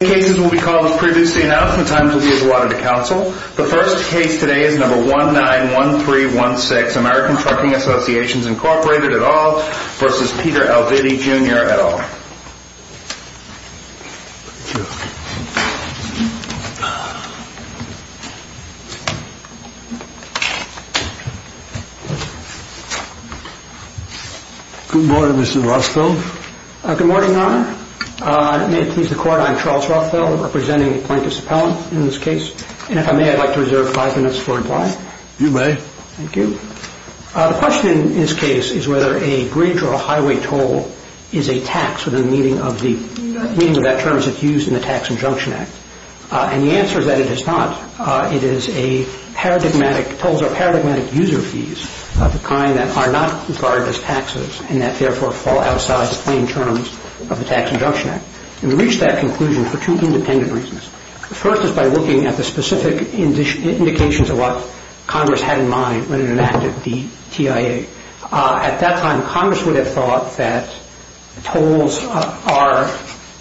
The cases we will call will be as previously announced and the times will be as allotted to counsel. The first case today is number 191316, American Trucking Association, Inc., et al. v. Peter Alviti, Jr., et al. Good morning, Mr. Roscoe. Good morning, Your Honor. May it please the Court, I'm Charles Rothfeld, representing the plaintiff's appellant in this case. And if I may, I'd like to reserve five minutes for reply. You may. Thank you. The question in this case is whether a bridge or a highway toll is a tax within the meaning of the terms that's used in the Tax Injunction Act. And the answer is that it is not. It is a paradigmatic, tolls are paradigmatic user fees of the kind that are not regarded as taxes and that, therefore, fall outside the main terms of the Tax Injunction Act. And we reach that conclusion for two independent reasons. The first is by looking at the specific indications of what Congress had in mind when it enacted the TIA. At that time, Congress would have thought that tolls are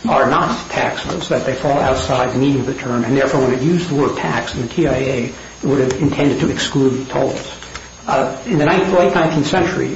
not taxes, that they fall outside the meaning of the term. And, therefore, when it used the word tax in the TIA, it would have intended to exclude tolls. In the late 19th century,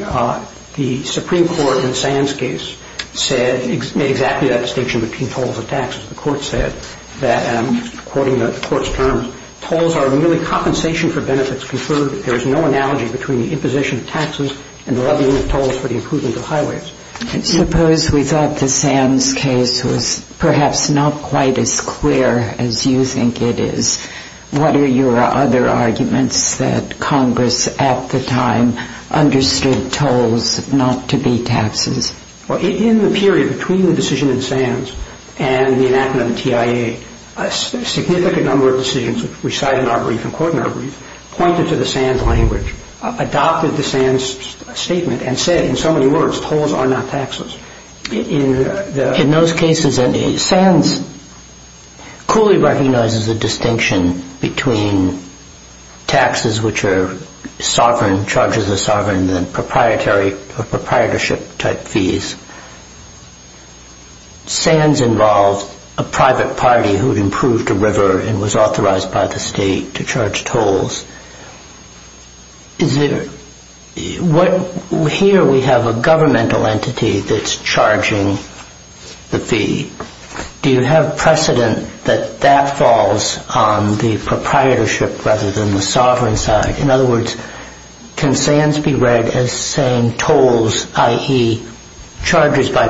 the Supreme Court in Sam's case said, made exactly that distinction between tolls and taxes. The Court said that, and I'm quoting the Court's terms, tolls are merely compensation for benefits conferred. There is no analogy between the imposition of taxes and the levying of tolls for the improvement of highways. And suppose we thought that Sam's case was perhaps not quite as clear as you think it is. What are your other arguments that Congress, at the time, understood tolls not to be taxes? In the period between the decision in Sam's and the enactment of the TIA, a significant number of decisions, which we cite in our brief and quote in our brief, pointed to the Sam's language, adopted the Sam's statement, and said, in so many words, tolls are not taxes. In those cases, Sam's clearly recognizes a distinction between taxes, which are sovereign, charges are sovereign, and then proprietary or proprietorship-type fees. Sam's involved a private party who had improved a river and was authorized by the state to charge tolls. Here, we have a governmental entity that's charging the fee. Do you have precedent that that falls on the proprietorship rather than the sovereign side? In other words, can Sam's be read as saying tolls, i.e., charges by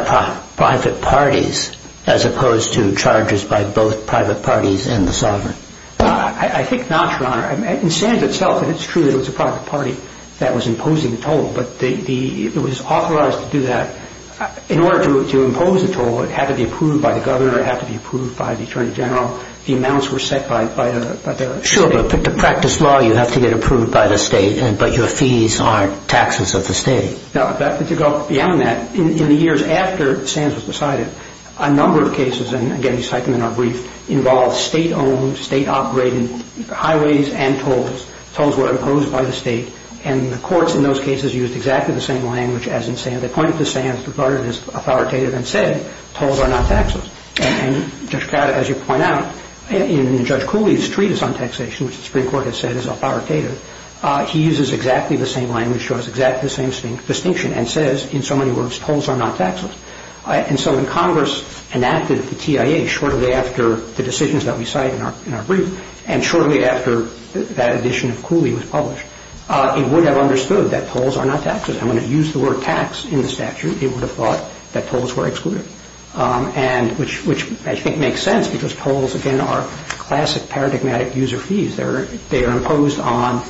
private parties as opposed to charges by both private parties and the sovereign? I think not, Your Honor. In Sam's itself, it's true that it was a private party that was imposing the toll, but it was authorized to do that. In order to impose a toll, it had to be approved by the governor, it had to be approved by the attorney general. The amounts were set by the state. Sure, but to practice law, you have to get approved by the state, but your fees aren't taxes of the state. To go beyond that, in the years after Sam's was decided, a number of cases, and again, highways and tolls, tolls were imposed by the state, and the courts in those cases used exactly the same language as in Sam's. They pointed to Sam's as authoritative and said, tolls are not taxes. As you point out, in Judge Cooley's treatise on taxation, which the Supreme Court has said is authoritative, he uses exactly the same language, shows exactly the same distinction, and says, in so many words, tolls are not taxes. When Congress enacted the TIA, shortly after the decisions that we cite in our brief, and shortly after that edition of Cooley was published, it would have understood that tolls are not taxes. When it used the word tax in the statute, it would have thought that tolls were excluded, which I think makes sense because tolls, again, are classic paradigmatic user fees. They are imposed on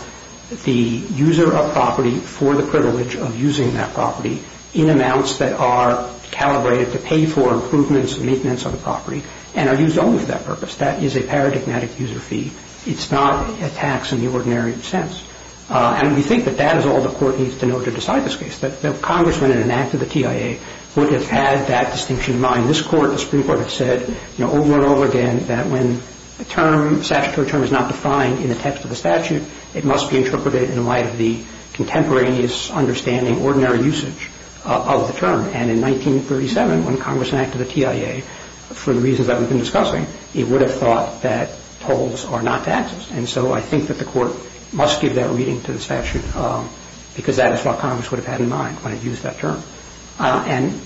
the user of property for the privilege of using that property in amounts that are calibrated to pay for improvements and maintenance of the property, and are used only for that purpose. That is a paradigmatic user fee. It's not a tax in the ordinary sense, and we think that that is all the Court needs to know to decide this case, that the Congressman, in an act of the TIA, would have had that distinction in mind. This Court, the Supreme Court, has said over and over again that when a term, statutory term, is not defined in the text of the statute, it must be interpreted in light of the contemporaneous understanding, ordinary usage of the term, and in 1937, when Congress enacted the TIA, for the reasons that we've been discussing, it would have thought that tolls are not taxes, and so I think that the Court must give that reading to the statute, because that is what Congress would have had in mind when it used that term, and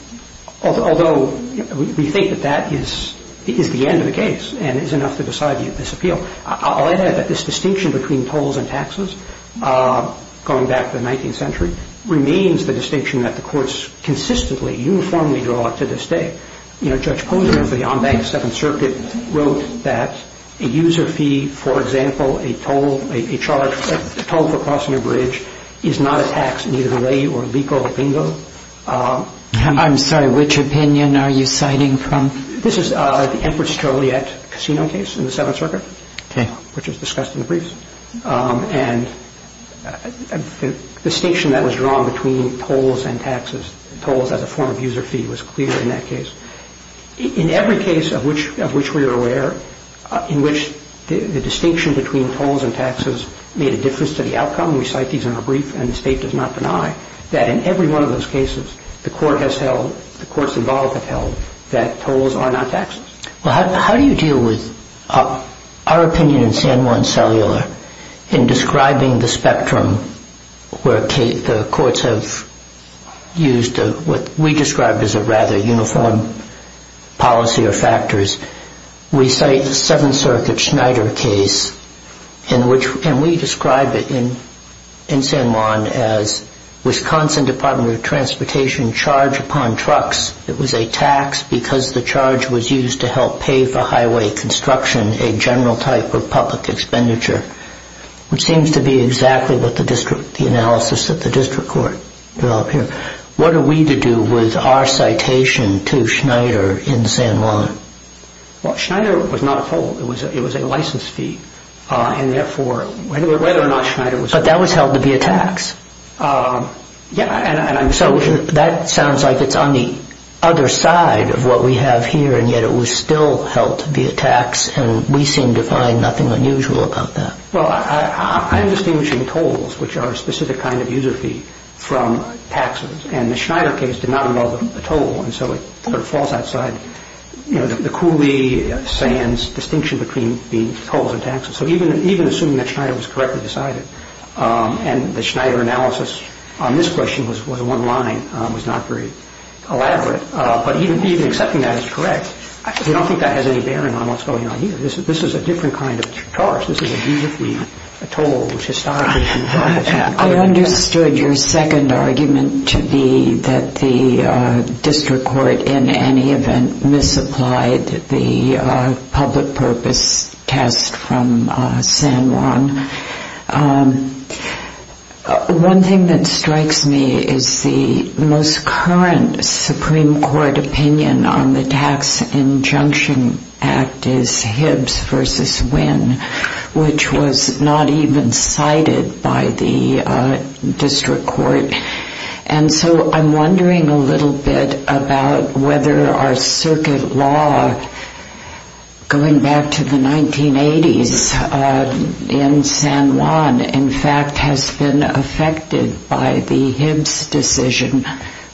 although we think that that is the end of the case and is enough to decide the appeal, I'll add that this distinction between tolls and taxes, going back to the 19th century, remains the distinction that the Courts consistently, uniformly draw to this day. You know, Judge Posner, for the en banc, the Seventh Circuit, wrote that a user fee, for example, a toll, a charge, a toll for crossing a bridge, is not a tax, neither lay or legal, bingo. I'm sorry, which opinion are you citing from? This is the Empress Joliet Casino case in the Seventh Circuit, which was discussed in the briefs, and the distinction that was drawn between tolls and taxes, tolls as a form of user fee, was clear in that case. In every case of which we are aware, in which the distinction between tolls and taxes made a difference to the outcome, we cite these in our brief, and the State does not deny that in every one of those cases, the Court has held, the Courts involved have held, that tolls are not taxes. Well, how do you deal with our opinion in San Juan Cellular, in describing the spectrum where the Courts have used what we describe as a rather uniform policy or factors? We cite the Seventh Circuit Schneider case, and we describe it in San Juan as Wisconsin Department of Transportation charge upon trucks, it was a tax because the charge was used to help pay for highway construction, a general type of public expenditure, which seems to be exactly what the analysis that the District Court developed here. What are we to do with our citation to Schneider in San Juan? Well, Schneider was not a toll, it was a license fee, and therefore, whether or not Schneider was a toll. But that was held to be a tax. So, that sounds like it's on the other side of what we have here, and yet it was still held to be a tax, and we seem to find nothing unusual about that. Well, I'm distinguishing tolls, which are a specific kind of user fee, from taxes, and the Schneider case did not involve a toll, and so it falls outside the Cooley-Sands distinction between being tolls and taxes, so even assuming that Schneider was correctly decided, and the Schneider analysis on this question was one line, was not very elaborate, but even accepting that as correct, I don't think that has any bearing on what's going on here. This is a different kind of charge, this is a user fee, a toll, which historically has been a tax. I understood your second argument to be that the District Court, in any event, misapplied the public purpose test from San Juan. One thing that strikes me is the most current Supreme Court opinion on the Tax Injunction Act is Hibbs v. Winn, which was not even cited by the District Court, and so I'm wondering a little bit about whether our circuit law, going back to the 1980s in San Juan, in fact has been affected by the Hibbs decision,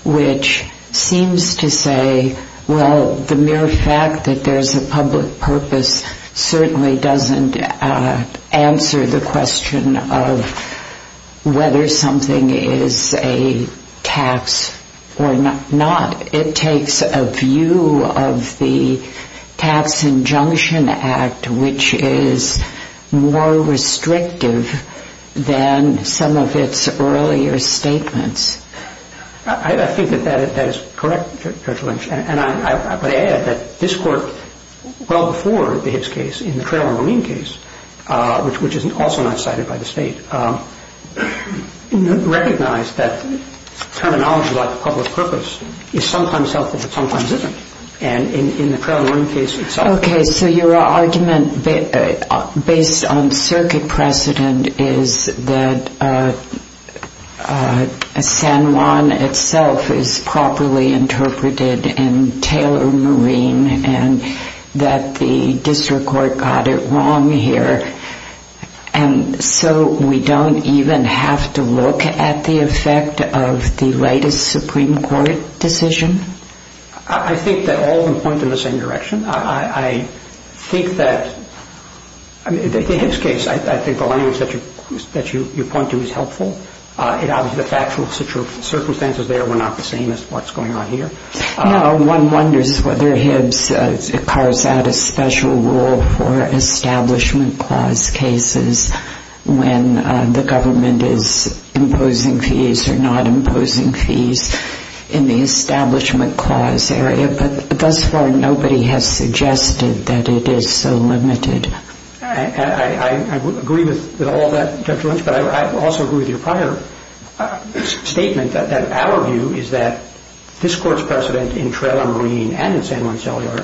which seems to say, well, the mere fact that there's a public purpose certainly doesn't answer the question of whether something is a tax or not. It takes a view of the Tax Injunction Act, which is more restrictive than some of its earlier statements. I think that that is correct, Judge Lynch, and I would add that this Court, well before the Hibbs case, in the Traylor-Romine case, which is also not cited by the State, recognized that terminology like public purpose is sometimes helpful and sometimes isn't, and in the Traylor-Romine case itself. Okay, so your argument based on circuit precedent is that San Juan itself is properly interpreted in Traylor-Romine and that the District Court got it wrong here, and so we don't even have to look at the effect of the latest Supreme Court decision? I think that all of them point in the same direction. I think that the Hibbs case, I think the language that you point to is helpful. Obviously, the factual circumstances there were not the same as what's going on here. One wonders whether Hibbs carves out a special rule for Establishment Clause cases when the Establishment Clause area, but thus far, nobody has suggested that it is so limited. I agree with all of that, Judge Lynch, but I also agree with your prior statement that our view is that this Court's precedent in Traylor-Romine and in San Juan Cellular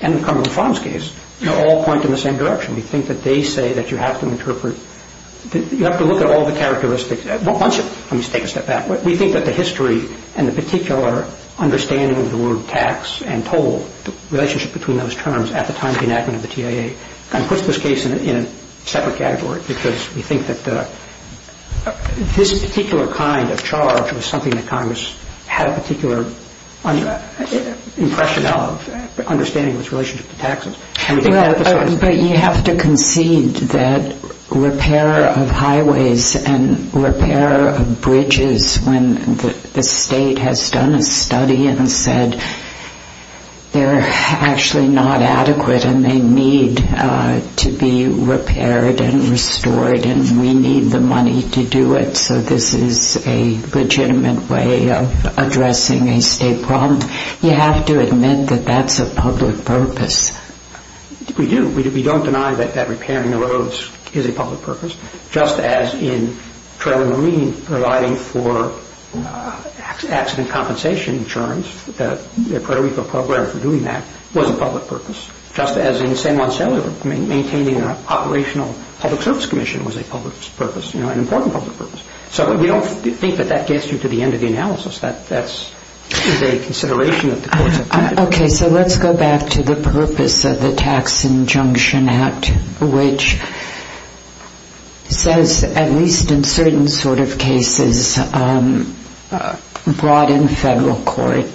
and the Cumberland Farms case all point in the same direction. We think that they say that you have to interpret, you have to look at all the characteristics. Let me take a step back. We think that the history and the particular understanding of the word tax and toll, the relationship between those terms at the time of the enactment of the TIA, kind of puts this case in a separate category because we think that this particular kind of charge was something that Congress had a particular impression of, understanding of its relationship to taxes. But you have to concede that repair of highways and repair of bridges, when the state has done a study and said they're actually not adequate and they need to be repaired and restored and we need the money to do it, so this is a legitimate way of addressing a state problem. You have to admit that that's a public purpose. We do. We don't deny that repairing the roads is a public purpose, just as in Traylor-Romine providing for accident compensation insurance, the Puerto Rico program for doing that was a public purpose, just as in San Juan Cellular maintaining an operational public service commission was a public purpose, an important public purpose. So we don't think that that gets you to the end of the analysis. That's a consideration that the courts have taken. Okay. So let's go back to the purpose of the Tax Injunction Act, which says, at least in certain sort of cases, brought in federal court,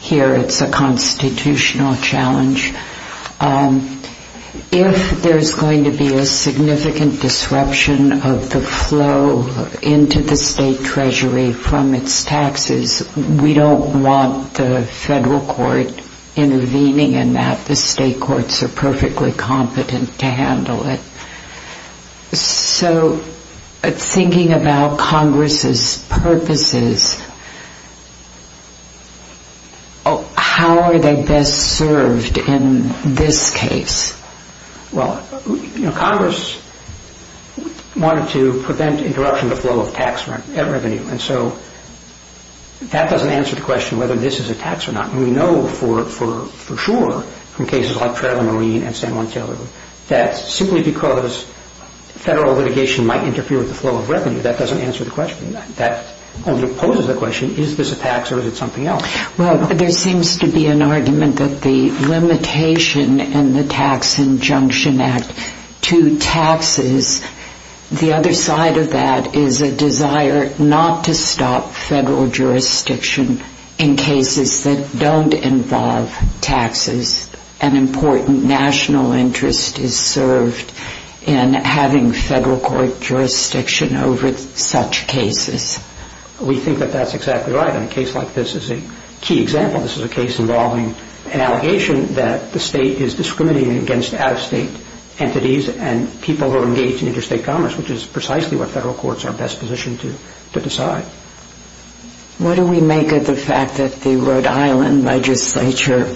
here it's a constitutional challenge, if there's going to be a significant disruption of the flow into the state treasury from its taxes, we don't want the federal court intervening in that. The state courts are perfectly competent to handle it. So thinking about Congress's purposes, how are they best served in this case? Well, Congress wanted to prevent interruption of the flow of tax revenue. And so that doesn't answer the question whether this is a tax or not. We know for sure from cases like Traylor-Romine and San Juan Cellular that simply because federal litigation might interfere with the flow of revenue, that doesn't answer the question. That only poses the question, is this a tax or is it something else? Well, there seems to be an argument that the limitation in the Tax Injunction Act to taxes, the other side of that is a desire not to stop federal jurisdiction in cases that don't involve taxes. An important national interest is served in having federal court jurisdiction over such cases. We think that that's exactly right. And a case like this is a key example. This is a case involving an allegation that the state is discriminating against out-of-state entities and people who are engaged in interstate commerce, which is precisely what federal courts are best positioned to decide. What do we make of the fact that the Rhode Island legislature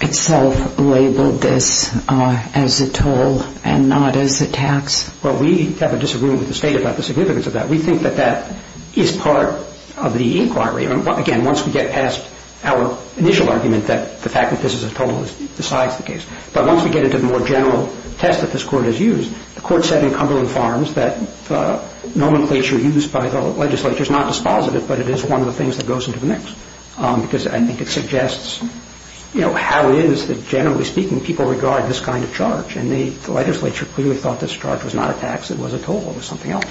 itself labeled this as a toll and not as a tax? Well, we have a disagreement with the state about the significance of that. We think that that is part of the inquiry. Again, once we get past our initial argument that the fact that this is a toll decides the case. But once we get into the more general test that this Court has used, the Court said in Cumberland Farms that the nomenclature used by the legislature is not dispositive, but it is one of the things that goes into the mix. Because I think it suggests how it is that, generally speaking, people regard this kind of charge. And the legislature clearly thought this charge was not a tax, it was a toll, it was something else.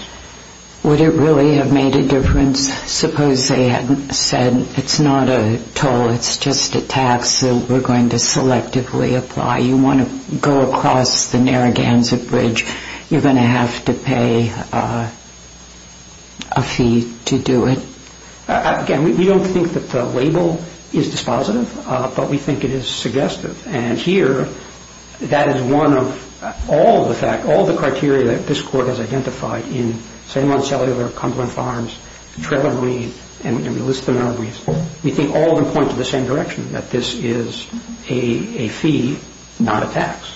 Would it really have made a difference, suppose they hadn't said, it's not a toll, it's just a tax that we're going to selectively apply? You want to go across the Narragansett Bridge, you're going to have to pay a fee to do it. Again, we don't think that the label is dispositive, but we think it is suggestive. And here, that is one of all the criteria that this Court has identified in St. Monticello or Cumberland Farms, Trelawney, and we list them in our briefs. We think all of them point to the same direction, that this is a fee, not a tax.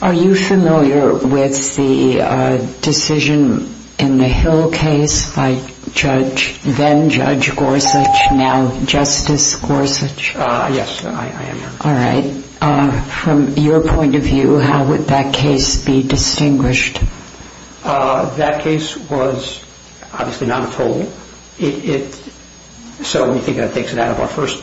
Are you familiar with the decision in the Hill case by then-Judge Gorsuch, now Justice Gorsuch? Yes, I am. All right. From your point of view, how would that case be distinguished? That case was obviously not a toll. So we think that takes it out of our first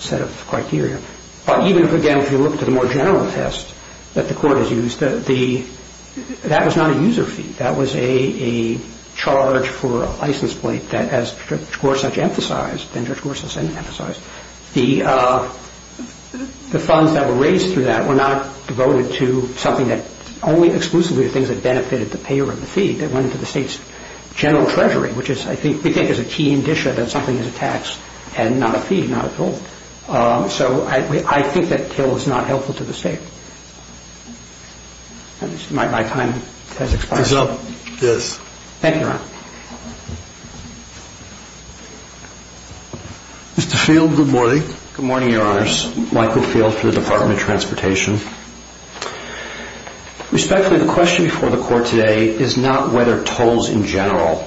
set of criteria. But even again, if you look at the more general test that the Court has used, that was not a user fee. That was a charge for a license plate that, as Judge Gorsuch emphasized, then-Judge Gorsuch The funds that were raised through that were not devoted to something that only exclusively the things that benefited the payer of the fee that went to the State's General Treasury, which I think is a key indicia that something is a tax and not a fee, not a toll. So I think that Hill is not helpful to the State. My time has expired. Yes. Thank you, Your Honor. Mr. Field, good morning. Good morning, Your Honors. Michael Field for the Department of Transportation. Respectfully, the question before the Court today is not whether tolls in general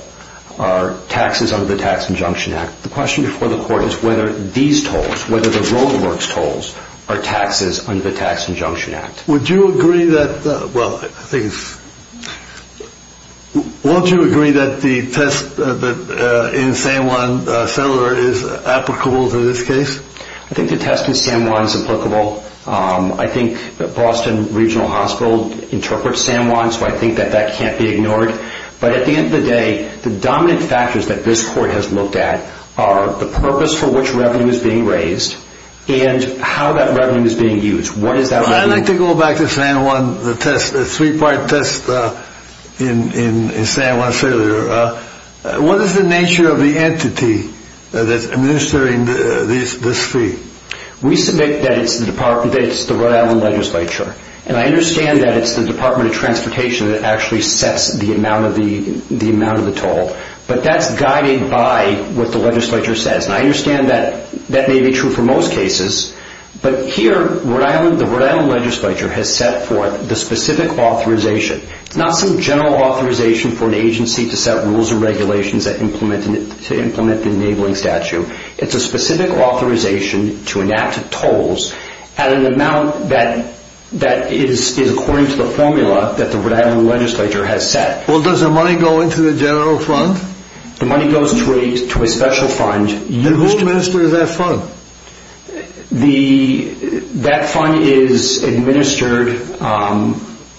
are taxes under the Tax Injunction Act. The question before the Court is whether these tolls, whether the roadworks tolls, are taxes under the Tax Injunction Act. Would you agree that, well, I think it's, won't you agree that the test in San Juan Cellar is applicable to this case? I think the test in San Juan is applicable. I think Boston Regional Hospital interprets San Juan, so I think that that can't be ignored. But at the end of the day, the dominant factors that this Court has looked at are the purpose for which revenue is being raised and how that revenue is being used. What is that revenue? I'd like to go back to San Juan, the test, the three-part test in San Juan failure. What is the nature of the entity that's administering this fee? We submit that it's the Rhode Island Legislature, and I understand that it's the Department of Transportation that actually sets the amount of the toll, but that's guided by what the legislature says. And I understand that that may be true for most cases, but here the Rhode Island Legislature has set forth the specific authorization, not some general authorization for an agency to set rules and regulations to implement the enabling statute. It's a specific authorization to enact tolls at an amount that is according to the formula that the Rhode Island Legislature has set. Well, does the money go into the general fund? The money goes to a special fund. And who administers that fund? That fund is administered by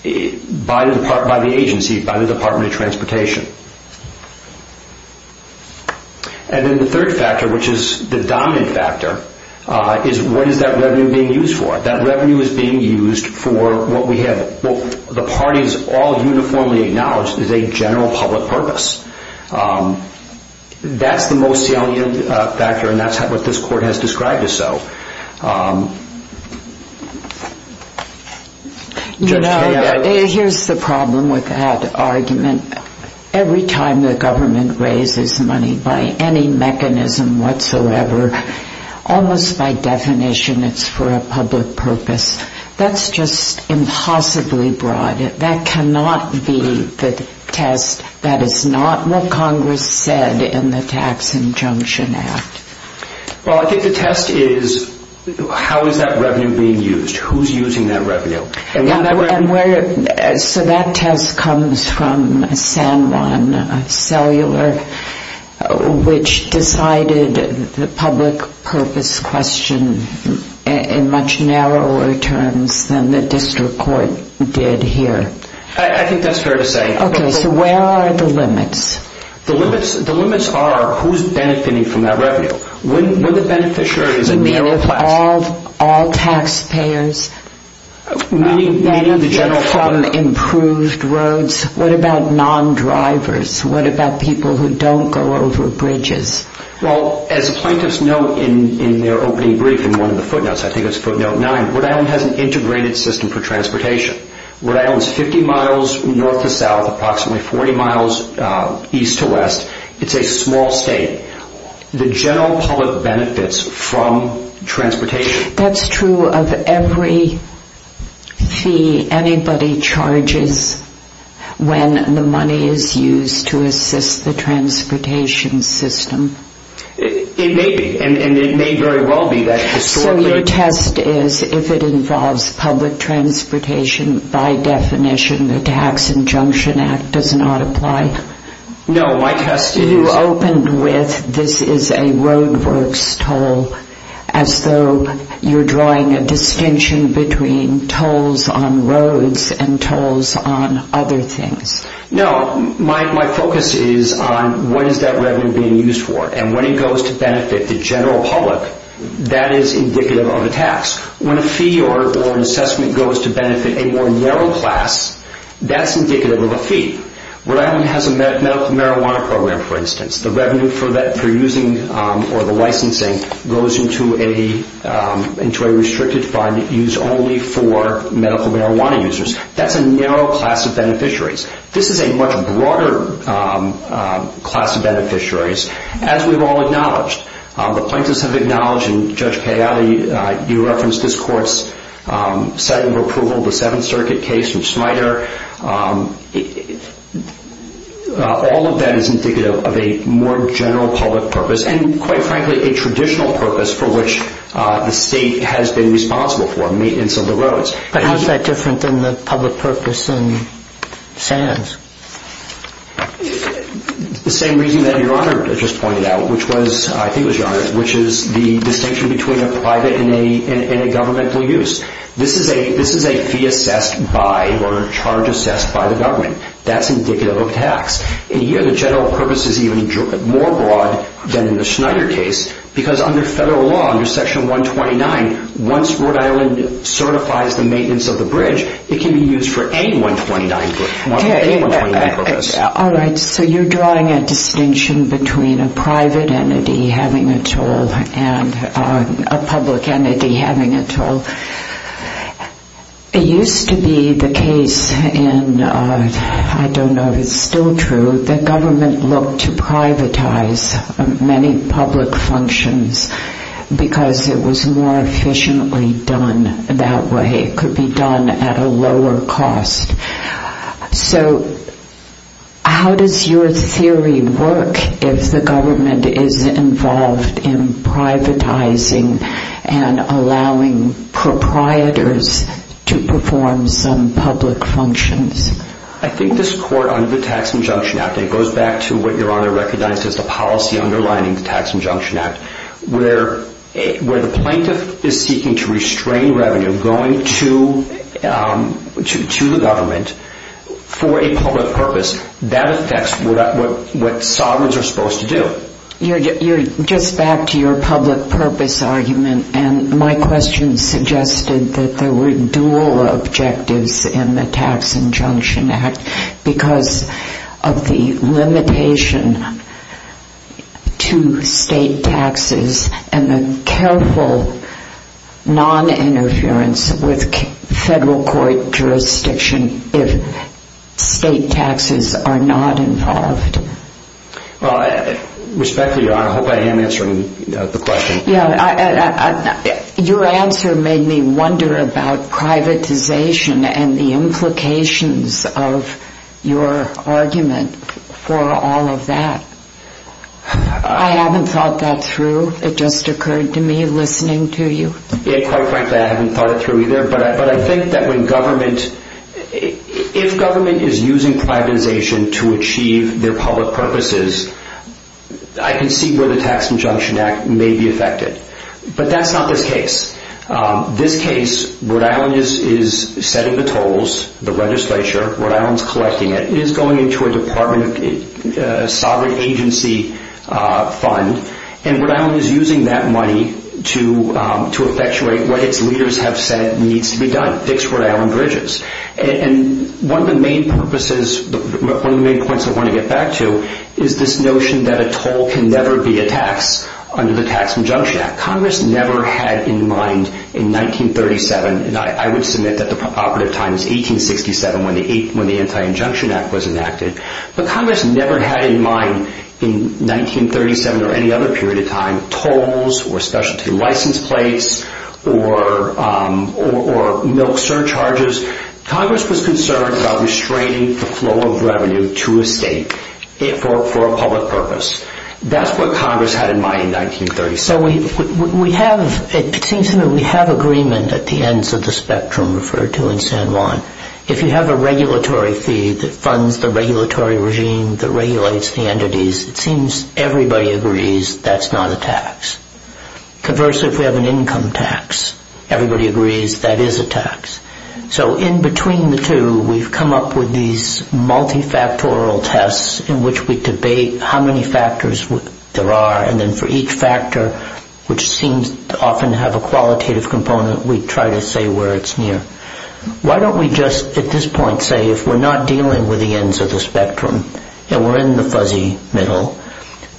the agency, by the Department of Transportation. And then the third factor, which is the dominant factor, is what is that revenue being used for? That revenue is being used for what the parties all uniformly acknowledge is a general public purpose. That's the most salient factor, and that's what this court has described as so. You know, here's the problem with that argument. Every time the government raises money by any mechanism whatsoever, almost by definition it's for a public purpose. That's just impossibly broad. That cannot be the test. That is not what Congress said in the Tax Injunction Act. Well, I think the test is how is that revenue being used? Who's using that revenue? So that test comes from San Juan Cellular, which decided the public purpose question in much narrower terms than the district court did here. I think that's fair to say. Okay, so where are the limits? The limits are who's benefiting from that revenue. When the beneficiary is a mayoral class... Meaning if all taxpayers benefit from improved roads, what about non-drivers? What about people who don't go over bridges? Well, as a plaintiff's note in their opening brief in one of the footnotes, I think it's footnote 9, Rhode Island has an integrated system for transportation. Rhode Island is 50 miles north to south, approximately 40 miles east to west. It's a small state. The general public benefits from transportation. That's true of every fee anybody charges when the money is used to assist the transportation system. It may be, and it may very well be that historically... So your test is if it involves public transportation, by definition the Tax Injunction Act does not apply? No, my test is... You opened with this is a roadworks toll, as though you're drawing a distinction between tolls on roads and tolls on other things. No, my focus is on when is that revenue being used for? And when it goes to benefit the general public, that is indicative of a tax. When a fee or an assessment goes to benefit a more narrow class, that's indicative of a fee. Rhode Island has a medical marijuana program, for instance. The revenue for using or the licensing goes into a restricted fund used only for medical marijuana users. That's a narrow class of beneficiaries. This is a much broader class of beneficiaries, as we've all acknowledged. The plaintiffs have acknowledged, and Judge Cagliari, you referenced this court's setting of approval of the Seventh Circuit case in Schneider. All of that is indicative of a more general public purpose, and quite frankly a traditional purpose for which the state has been responsible for, maintenance of the roads. But how is that different than the public purpose in SANS? The same reason that Your Honor just pointed out, which was, I think it was Your Honor, which is the distinction between a private and a governmental use. This is a fee assessed by or a charge assessed by the government. That's indicative of tax. And here the general purpose is even more broad than in the Schneider case, because under federal law, under Section 129, once Rhode Island certifies the maintenance of the bridge, it can be used for any 129 purpose. All right. So you're drawing a distinction between a private entity having a toll and a public entity having a toll. It used to be the case in, I don't know if it's still true, that government looked to privatize many public functions because it was more efficiently done that way. It could be done at a lower cost. So how does your theory work if the government is involved in privatizing and allowing proprietors to perform some public functions? I think this court under the Tax Injunction Act, it goes back to what Your Honor recognized as the policy underlining the Tax Injunction Act, where the plaintiff is seeking to restrain revenue going to the government for a public purpose. That affects what sovereigns are supposed to do. You're just back to your public purpose argument, and my question suggested that there were dual objectives in the Tax Injunction Act because of the limitation to state taxes and the careful noninterference with federal court jurisdiction if state taxes are not involved. Respectfully, Your Honor, I hope I am answering the question. Your answer made me wonder about privatization and the implications of your argument for all of that. I haven't thought that through. It just occurred to me listening to you. Quite frankly, I haven't thought it through either, but I think that if government is using privatization to achieve their public purposes, I can see where the Tax Injunction Act may be affected. But that's not this case. This case, Rhode Island is setting the tolls, the legislature. Rhode Island is collecting it. It is going into a department, a sovereign agency fund, and Rhode Island is using that money to effectuate what its leaders have said needs to be done, fix Rhode Island bridges. One of the main points I want to get back to is this notion that a toll can never be a tax under the Tax Injunction Act. Congress never had in mind in 1937, and I would submit that the operative time is 1867 when the Anti-Injunction Act was enacted, but Congress never had in mind in 1937 or any other period of time or specialty license plates or milk surcharges. Congress was concerned about restraining the flow of revenue to a state for a public purpose. That's what Congress had in mind in 1937. So it seems to me we have agreement at the ends of the spectrum referred to in San Juan. If you have a regulatory fee that funds the regulatory regime that regulates the entities, it seems everybody agrees that's not a tax. Conversely, if we have an income tax, everybody agrees that is a tax. So in between the two, we've come up with these multifactorial tests in which we debate how many factors there are, and then for each factor which seems to often have a qualitative component, we try to say where it's near. Why don't we just at this point say if we're not dealing with the ends of the spectrum and we're in the fuzzy middle,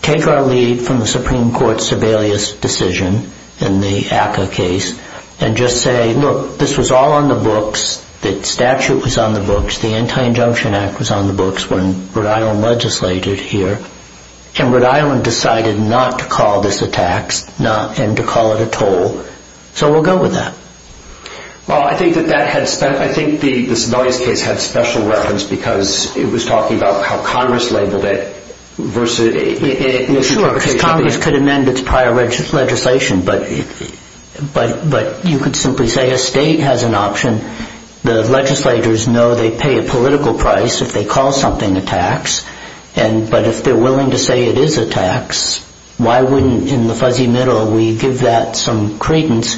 take our lead from the Supreme Court's Sebelius decision in the ACCA case and just say, look, this was all on the books. The statute was on the books. The Anti-Injunction Act was on the books when Rhode Island legislated here. And Rhode Island decided not to call this a tax and to call it a toll. So we'll go with that. Well, I think the Sebelius case had special reference because it was talking about how Congress labeled it. Sure, because Congress could amend its prior legislation, but you could simply say a state has an option. The legislators know they pay a political price if they call something a tax, but if they're willing to say it is a tax, why wouldn't in the fuzzy middle we give that some credence,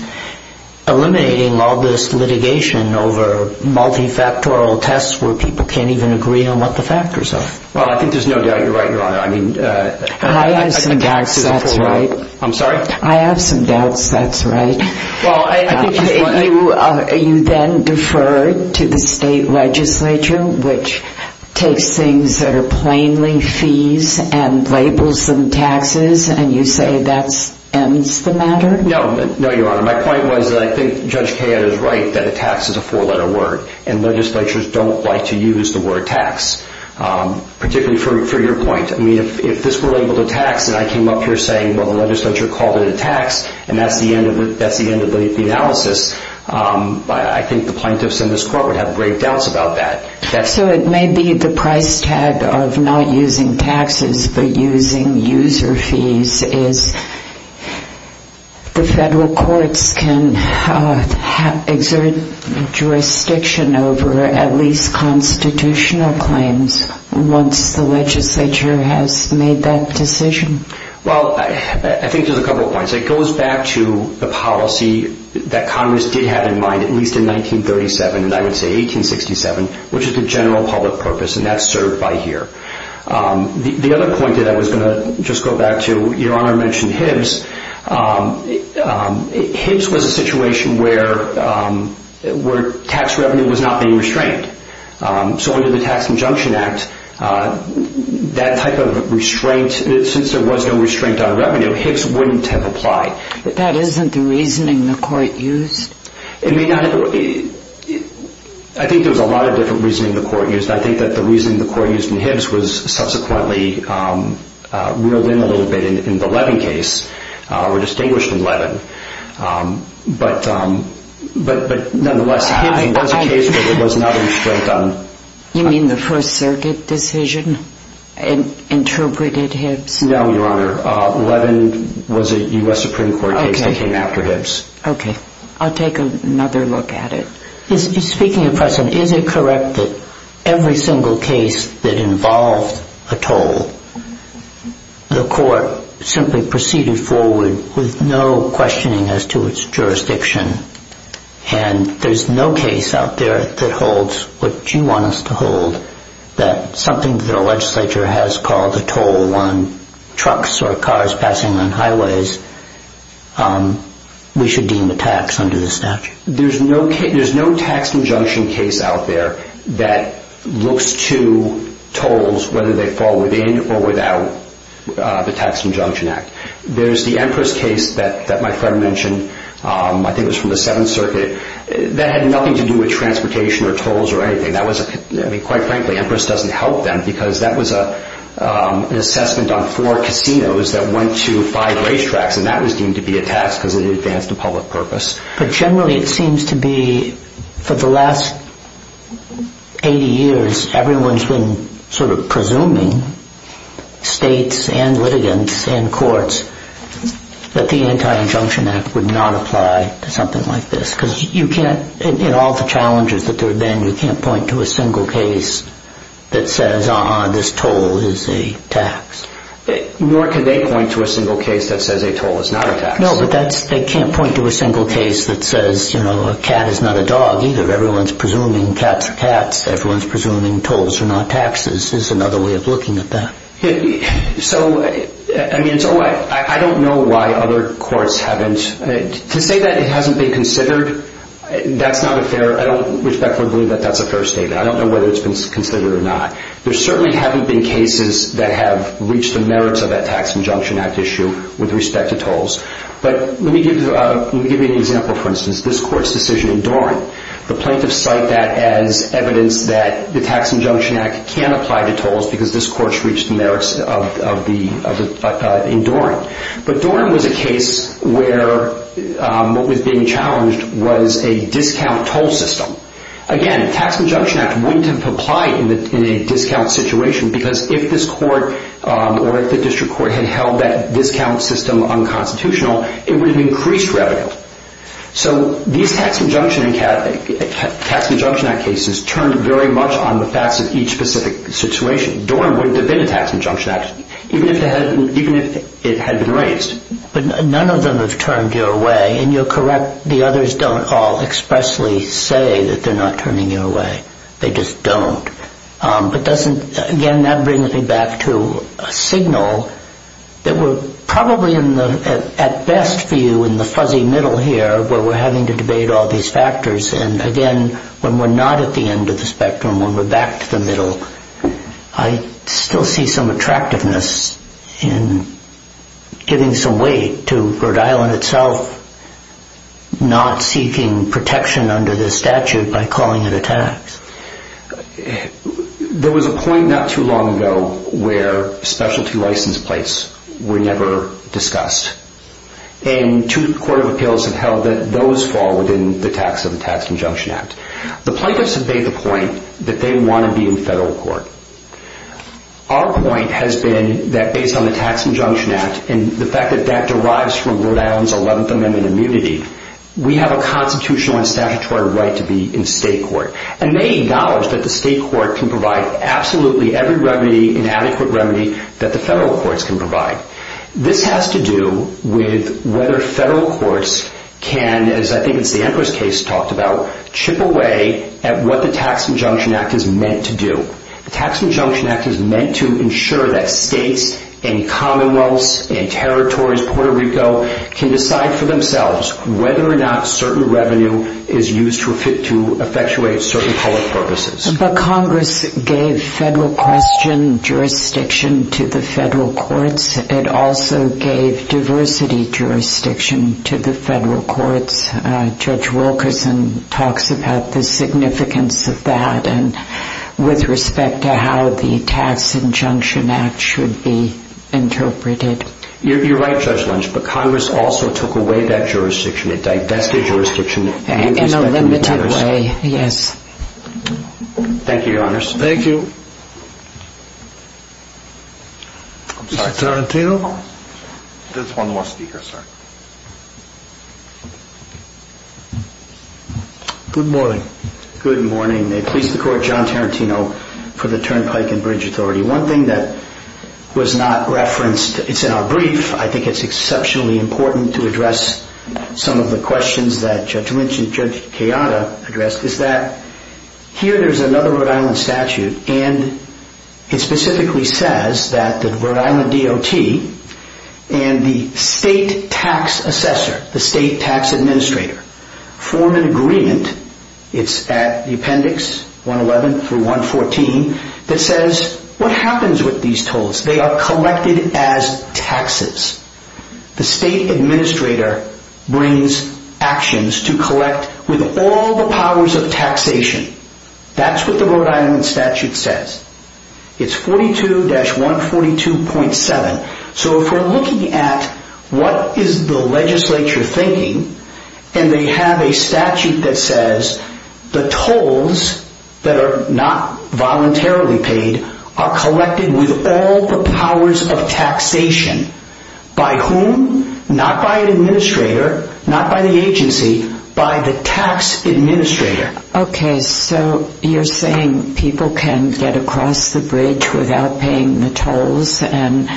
eliminating all this litigation over multifactorial tests where people can't even agree on what the factors are? Well, I think there's no doubt you're right, Your Honor. I have some doubts that's right. I'm sorry? I have some doubts that's right. You then defer to the state legislature, which takes things that are plainly fees and labels them taxes, and you say that ends the matter? No, Your Honor. My point was that I think Judge Kayette is right that a tax is a four-letter word, and legislatures don't like to use the word tax, particularly for your point. I mean, if this were labeled a tax and I came up here saying, well, the legislature called it a tax and that's the end of the analysis, I think the plaintiffs in this court would have great doubts about that. So it may be the price tag of not using taxes but using user fees is the federal courts can exert jurisdiction over at least constitutional claims once the legislature has made that decision? Well, I think there's a couple of points. It goes back to the policy that Congress did have in mind at least in 1937, and I would say 1867, which is the general public purpose, and that's served by here. The other point that I was going to just go back to, Your Honor mentioned Hibbs. Hibbs was a situation where tax revenue was not being restrained. So under the Tax Injunction Act, that type of restraint, since there was no restraint on revenue, Hibbs wouldn't have applied. But that isn't the reasoning the court used? It may not have. I think there was a lot of different reasoning the court used. I think that the reasoning the court used in Hibbs was subsequently reeled in a little bit in the Levin case or distinguished in Levin. But nonetheless, Hibbs was a case where there was not a restraint on tax. You mean the First Circuit decision interpreted Hibbs? No, Your Honor. Levin was a U.S. Supreme Court case that came after Hibbs. Okay. I'll take another look at it. Speaking of precedent, is it correct that every single case that involved a toll, the court simply proceeded forward with no questioning as to its jurisdiction, and there's no case out there that holds what you want us to hold, that something that a legislature has called a toll on trucks or cars passing on highways, we should deem a tax under the statute? There's no tax injunction case out there that looks to tolls, whether they fall within or without the Tax Injunction Act. There's the Empress case that my friend mentioned. I think it was from the Seventh Circuit. That had nothing to do with transportation or tolls or anything. Quite frankly, Empress doesn't help them because that was an assessment on four casinos that went to five racetracks, and that was deemed to be a tax because it advanced a public purpose. But generally it seems to be, for the last 80 years, everyone's been sort of presuming, states and litigants and courts, that the Anti-Injunction Act would not apply to something like this. Because you can't, in all the challenges that there have been, you can't point to a single case that says, uh-huh, this toll is a tax. Nor can they point to a single case that says a toll is not a tax. No, but they can't point to a single case that says a cat is not a dog either. Everyone's presuming cats are cats. Everyone's presuming tolls are not taxes. There's another way of looking at that. I don't know why other courts haven't. To say that it hasn't been considered, that's not a fair, I don't respectfully believe that that's a fair statement. I don't know whether it's been considered or not. There certainly haven't been cases that have reached the merits of that Tax Injunction Act issue with respect to tolls. But let me give you an example, for instance. This court's decision in Doran. The plaintiffs cite that as evidence that the Tax Injunction Act can apply to tolls because this court's reached the merits in Doran. But Doran was a case where what was being challenged was a discount toll system. Again, the Tax Injunction Act wouldn't have applied in a discount situation because if this court or if the district court had held that discount system unconstitutional, it would have increased revenue. So these Tax Injunction Act cases turned very much on the facts of each specific situation. Doran wouldn't have been a Tax Injunction Act even if it had been raised. But none of them have turned your way, and you're correct, the others don't all expressly say that they're not turning you away. They just don't. But again, that brings me back to a signal that we're probably at best for you in the fuzzy middle here where we're having to debate all these factors. And again, when we're not at the end of the spectrum, when we're back to the middle, I still see some attractiveness in giving some weight to Rhode Island itself not seeking protection under the statute by calling it a tax. There was a point not too long ago where specialty license plates were never discussed. And two court of appeals have held that those fall within the tax of the Tax Injunction Act. The plaintiffs have made the point that they want to be in federal court. Our point has been that based on the Tax Injunction Act and the fact that that derives from Rhode Island's 11th Amendment immunity, we have a constitutional and statutory right to be in state court. And they acknowledge that the state court can provide absolutely every remedy and adequate remedy that the federal courts can provide. This has to do with whether federal courts can, as I think it's the Empress case talked about, chip away at what the Tax Injunction Act is meant to do. The Tax Injunction Act is meant to ensure that states and commonwealths and territories, Puerto Rico, can decide for themselves whether or not certain revenue is used to effectuate certain public purposes. But Congress gave federal question jurisdiction to the federal courts. It also gave diversity jurisdiction to the federal courts. Judge Wilkerson talks about the significance of that with respect to how the Tax Injunction Act should be interpreted. You're right, Judge Lynch, but Congress also took away that jurisdiction. It divested jurisdiction. In a limited way, yes. Thank you, Your Honors. Thank you. Mr. Tarantino? There's one more speaker, sir. Good morning. Good morning. May it please the Court, John Tarantino for the Turnpike and Bridge Authority. One thing that was not referenced, it's in our brief. I think it's exceptionally important to address some of the questions that Judge Lynch and Judge Kayada addressed, is that here there's another Rhode Island statute, and it specifically says that the Rhode Island DOT and the state tax assessor, the state tax administrator, form an agreement, it's at the appendix 111 through 114, that says what happens with these tolls? They are collected as taxes. The state administrator brings actions to collect with all the powers of taxation. That's what the Rhode Island statute says. It's 42-142.7. So if we're looking at what is the legislature thinking, and they have a statute that says the tolls that are not voluntarily paid are collected with all the powers of taxation. By whom? Not by an administrator, not by the agency, by the tax administrator. Okay, so you're saying people can get across the bridge without paying the tolls, and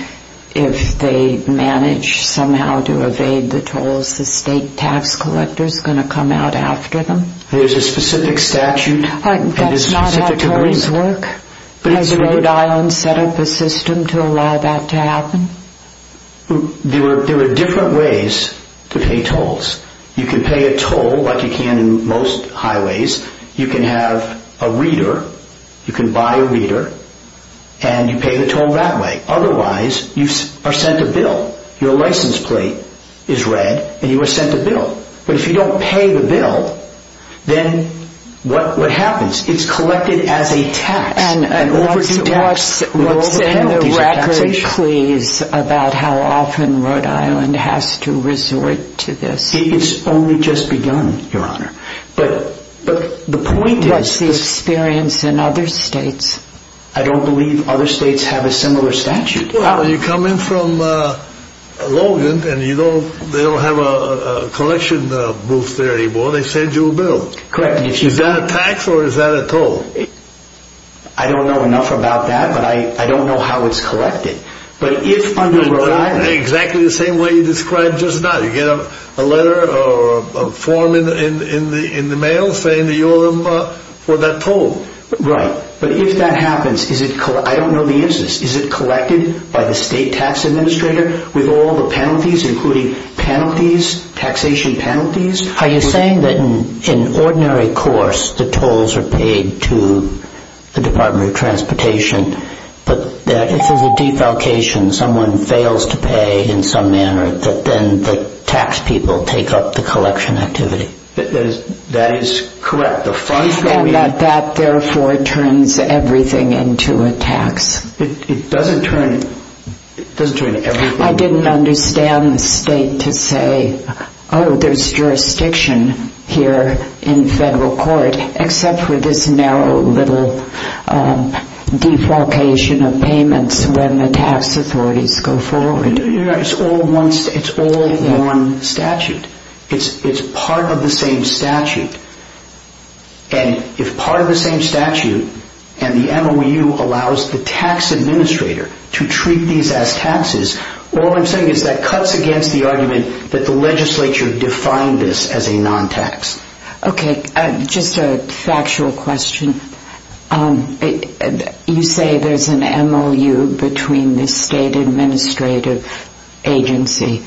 if they manage somehow to evade the tolls, the state tax collector is going to come out after them? There's a specific statute. That's not how tolls work. Has Rhode Island set up a system to allow that to happen? There are different ways to pay tolls. You can pay a toll like you can in most highways. You can have a reader. You can buy a reader, and you pay the toll that way. Otherwise, you are sent a bill. Your license plate is read, and you are sent a bill. But if you don't pay the bill, then what happens? It's collected as a tax. And what's in the record, please, about how often Rhode Island has to resort to this? It's only just begun, Your Honor. What's the experience in other states? I don't believe other states have a similar statute. Well, you come in from Logan, and they don't have a collection booth there anymore. They send you a bill. Correct me if I'm wrong. Is that a tax or is that a toll? I don't know enough about that, but I don't know how it's collected. Exactly the same way you described just now. You get a letter or a form in the mail saying that you owe them for that toll. Right. But if that happens, I don't know the instance. Is it collected by the state tax administrator with all the penalties, including penalties, taxation penalties? Are you saying that in ordinary course, the tolls are paid to the Department of Transportation, but if there's a defalcation, someone fails to pay in some manner, then the tax people take up the collection activity? That is correct. And that, therefore, turns everything into a tax. It doesn't turn everything. I didn't understand the state to say, oh, there's jurisdiction here in federal court, except for this narrow little defalcation of payments when the tax authorities go forward. It's all one statute. It's part of the same statute. And if part of the same statute and the MOU allows the tax administrator to treat these as taxes, all I'm saying is that cuts against the argument that the legislature defined this as a non-tax. Okay. Just a factual question. You say there's an MOU between the state administrative agency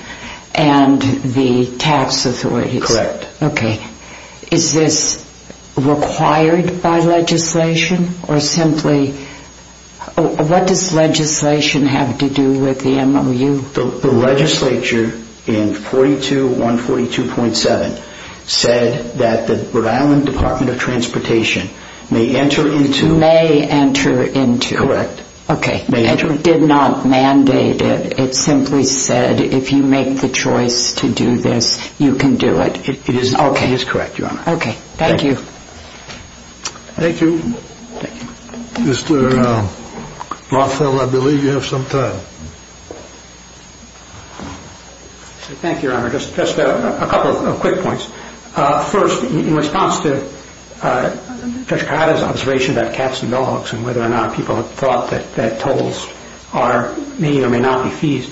and the tax authorities. Correct. Okay. Is this required by legislation, or simply what does legislation have to do with the MOU? The legislature in 42142.7 said that the Rhode Island Department of Transportation may enter into. May enter into. Correct. Okay. It did not mandate it. It simply said if you make the choice to do this, you can do it. It is correct, Your Honor. Okay. Thank you. Thank you. Mr. Rothfeld, I believe you have some time. Thank you, Your Honor. Just a couple of quick points. First, in response to Judge Cahada's observation about cats and dogs and whether or not people thought that tolls may or may not be fees,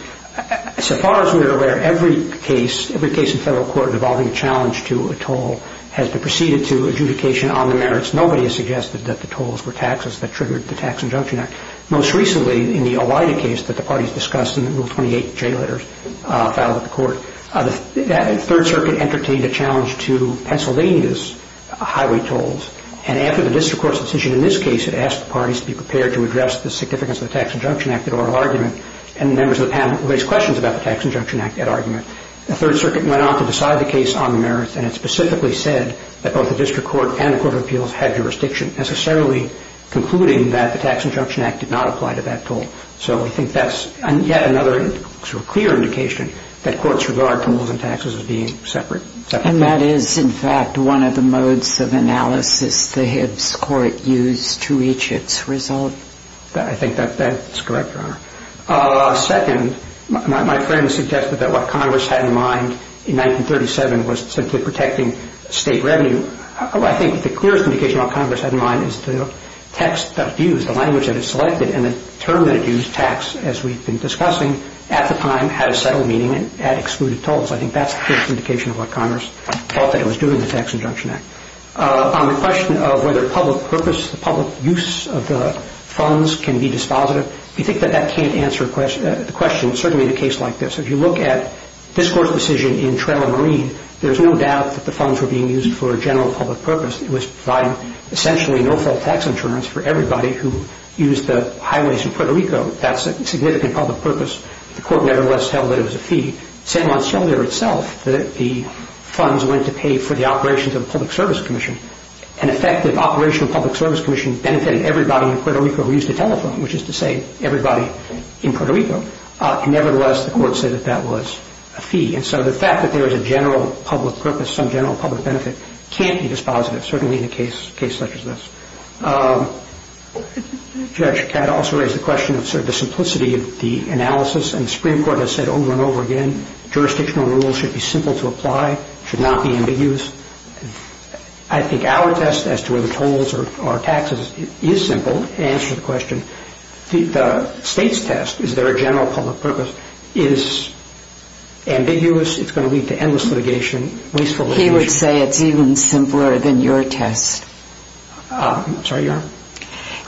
so far as we are aware, every case in federal court involving a challenge to a toll has been preceded to adjudication on the merits. Nobody has suggested that the tolls were taxes that triggered the Tax Injunction Act. Most recently, in the OIDA case that the parties discussed in the Rule 28 J letters filed at the court, the Third Circuit entertained a challenge to Pennsylvania's highway tolls, and after the district court's decision in this case had asked the parties to be prepared to address the significance of the Tax Injunction Act at oral argument, and members of the panel raised questions about the Tax Injunction Act at argument, the Third Circuit went on to decide the case on the merits, and it specifically said that both the district court and the court of appeals had jurisdiction, necessarily concluding that the Tax Injunction Act did not apply to that toll. So I think that's yet another clear indication that courts regard tolls and taxes as being separate. And that is, in fact, one of the modes of analysis the Hibbs Court used to reach its result. I think that's correct, Your Honor. Second, my friend suggested that what Congress had in mind in 1937 was simply protecting state revenue. I think the clearest indication what Congress had in mind is the text that it used, the language that it selected, and the term that it used, tax, as we've been discussing, at the time had a settled meaning and had excluded tolls. I think that's the clearest indication of what Congress felt that it was doing, the Tax Injunction Act. On the question of whether public purpose, the public use of the funds can be dispositive, we think that that can't answer the question, certainly in a case like this. If you look at this court's decision in Trello and Reed, there's no doubt that the funds were being used for a general public purpose. It was providing essentially no-fault tax insurance for everybody who used the highways in Puerto Rico. That's a significant public purpose. The court nevertheless held that it was a fee. San Monsignor itself, the funds went to pay for the operations of the Public Service Commission. An effective operation of the Public Service Commission benefited everybody in Puerto Rico who used a telephone, which is to say everybody in Puerto Rico. Nevertheless, the court said that that was a fee. And so the fact that there is a general public purpose, some general public benefit, can't be dispositive, certainly in a case such as this. Judge Katta also raised the question of sort of the simplicity of the analysis, and the Supreme Court has said over and over again jurisdictional rules should be simple to apply, should not be ambiguous. I think our test as to whether tolls or taxes is simple, to answer the question, the state's test, is there a general public purpose, is ambiguous, it's going to lead to endless litigation, wasteful litigation. He would say it's even simpler than your test. I'm sorry, your?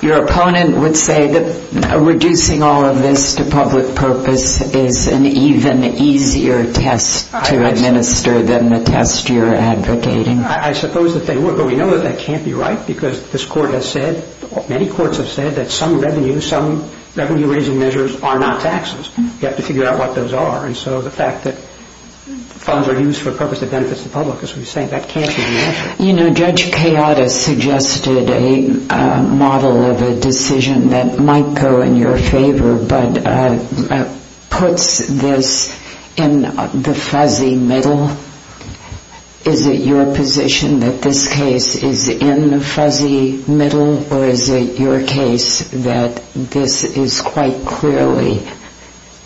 Your opponent would say that reducing all of this to public purpose is an even easier test to administer than the test you're advocating. I suppose that they would, but we know that that can't be right, because this court has said, many courts have said that some revenue, some revenue-raising measures are not taxes. You have to figure out what those are. And so the fact that funds are used for a purpose that benefits the public, as we were saying, that can't be the answer. You know, Judge Katta suggested a model of a decision that might go in your favor, but puts this in the fuzzy middle. Is it your position that this case is in the fuzzy middle, or is it your case that this is quite clearly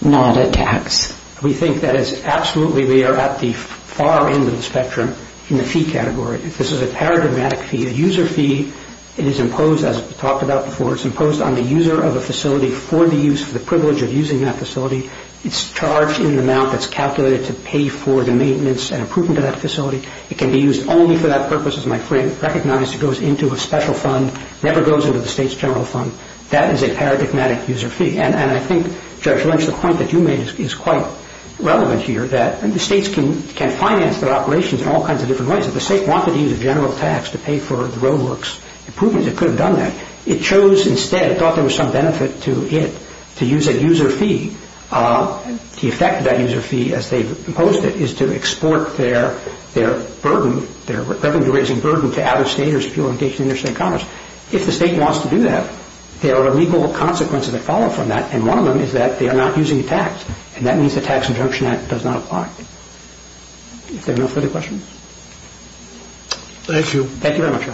not a tax? We think that it's absolutely, we are at the far end of the spectrum in the fee category. This is a paradigmatic fee. A user fee, it is imposed, as we talked about before, it's imposed on the user of a facility for the use, for the privilege of using that facility. It's charged in the amount that's calculated to pay for the maintenance and improvement of that facility. It can be used only for that purpose, as my friend recognized, it goes into a special fund, never goes into the state's general fund. That is a paradigmatic user fee. And I think, Judge Lynch, the point that you made is quite relevant here, that the states can finance their operations in all kinds of different ways. If the state wanted to use a general tax to pay for the roadworks improvements, it could have done that. It chose instead, it thought there was some benefit to it, to use a user fee. The effect of that user fee, as they've imposed it, is to export their burden, their revenue-raising burden to out-of-staters fuel and gas industry and commerce. If the state wants to do that, there are legal consequences that follow from that, and one of them is that they are not using a tax, and that means the Tax Injunction Act does not apply. If there are no further questions. Thank you. Thank you very much.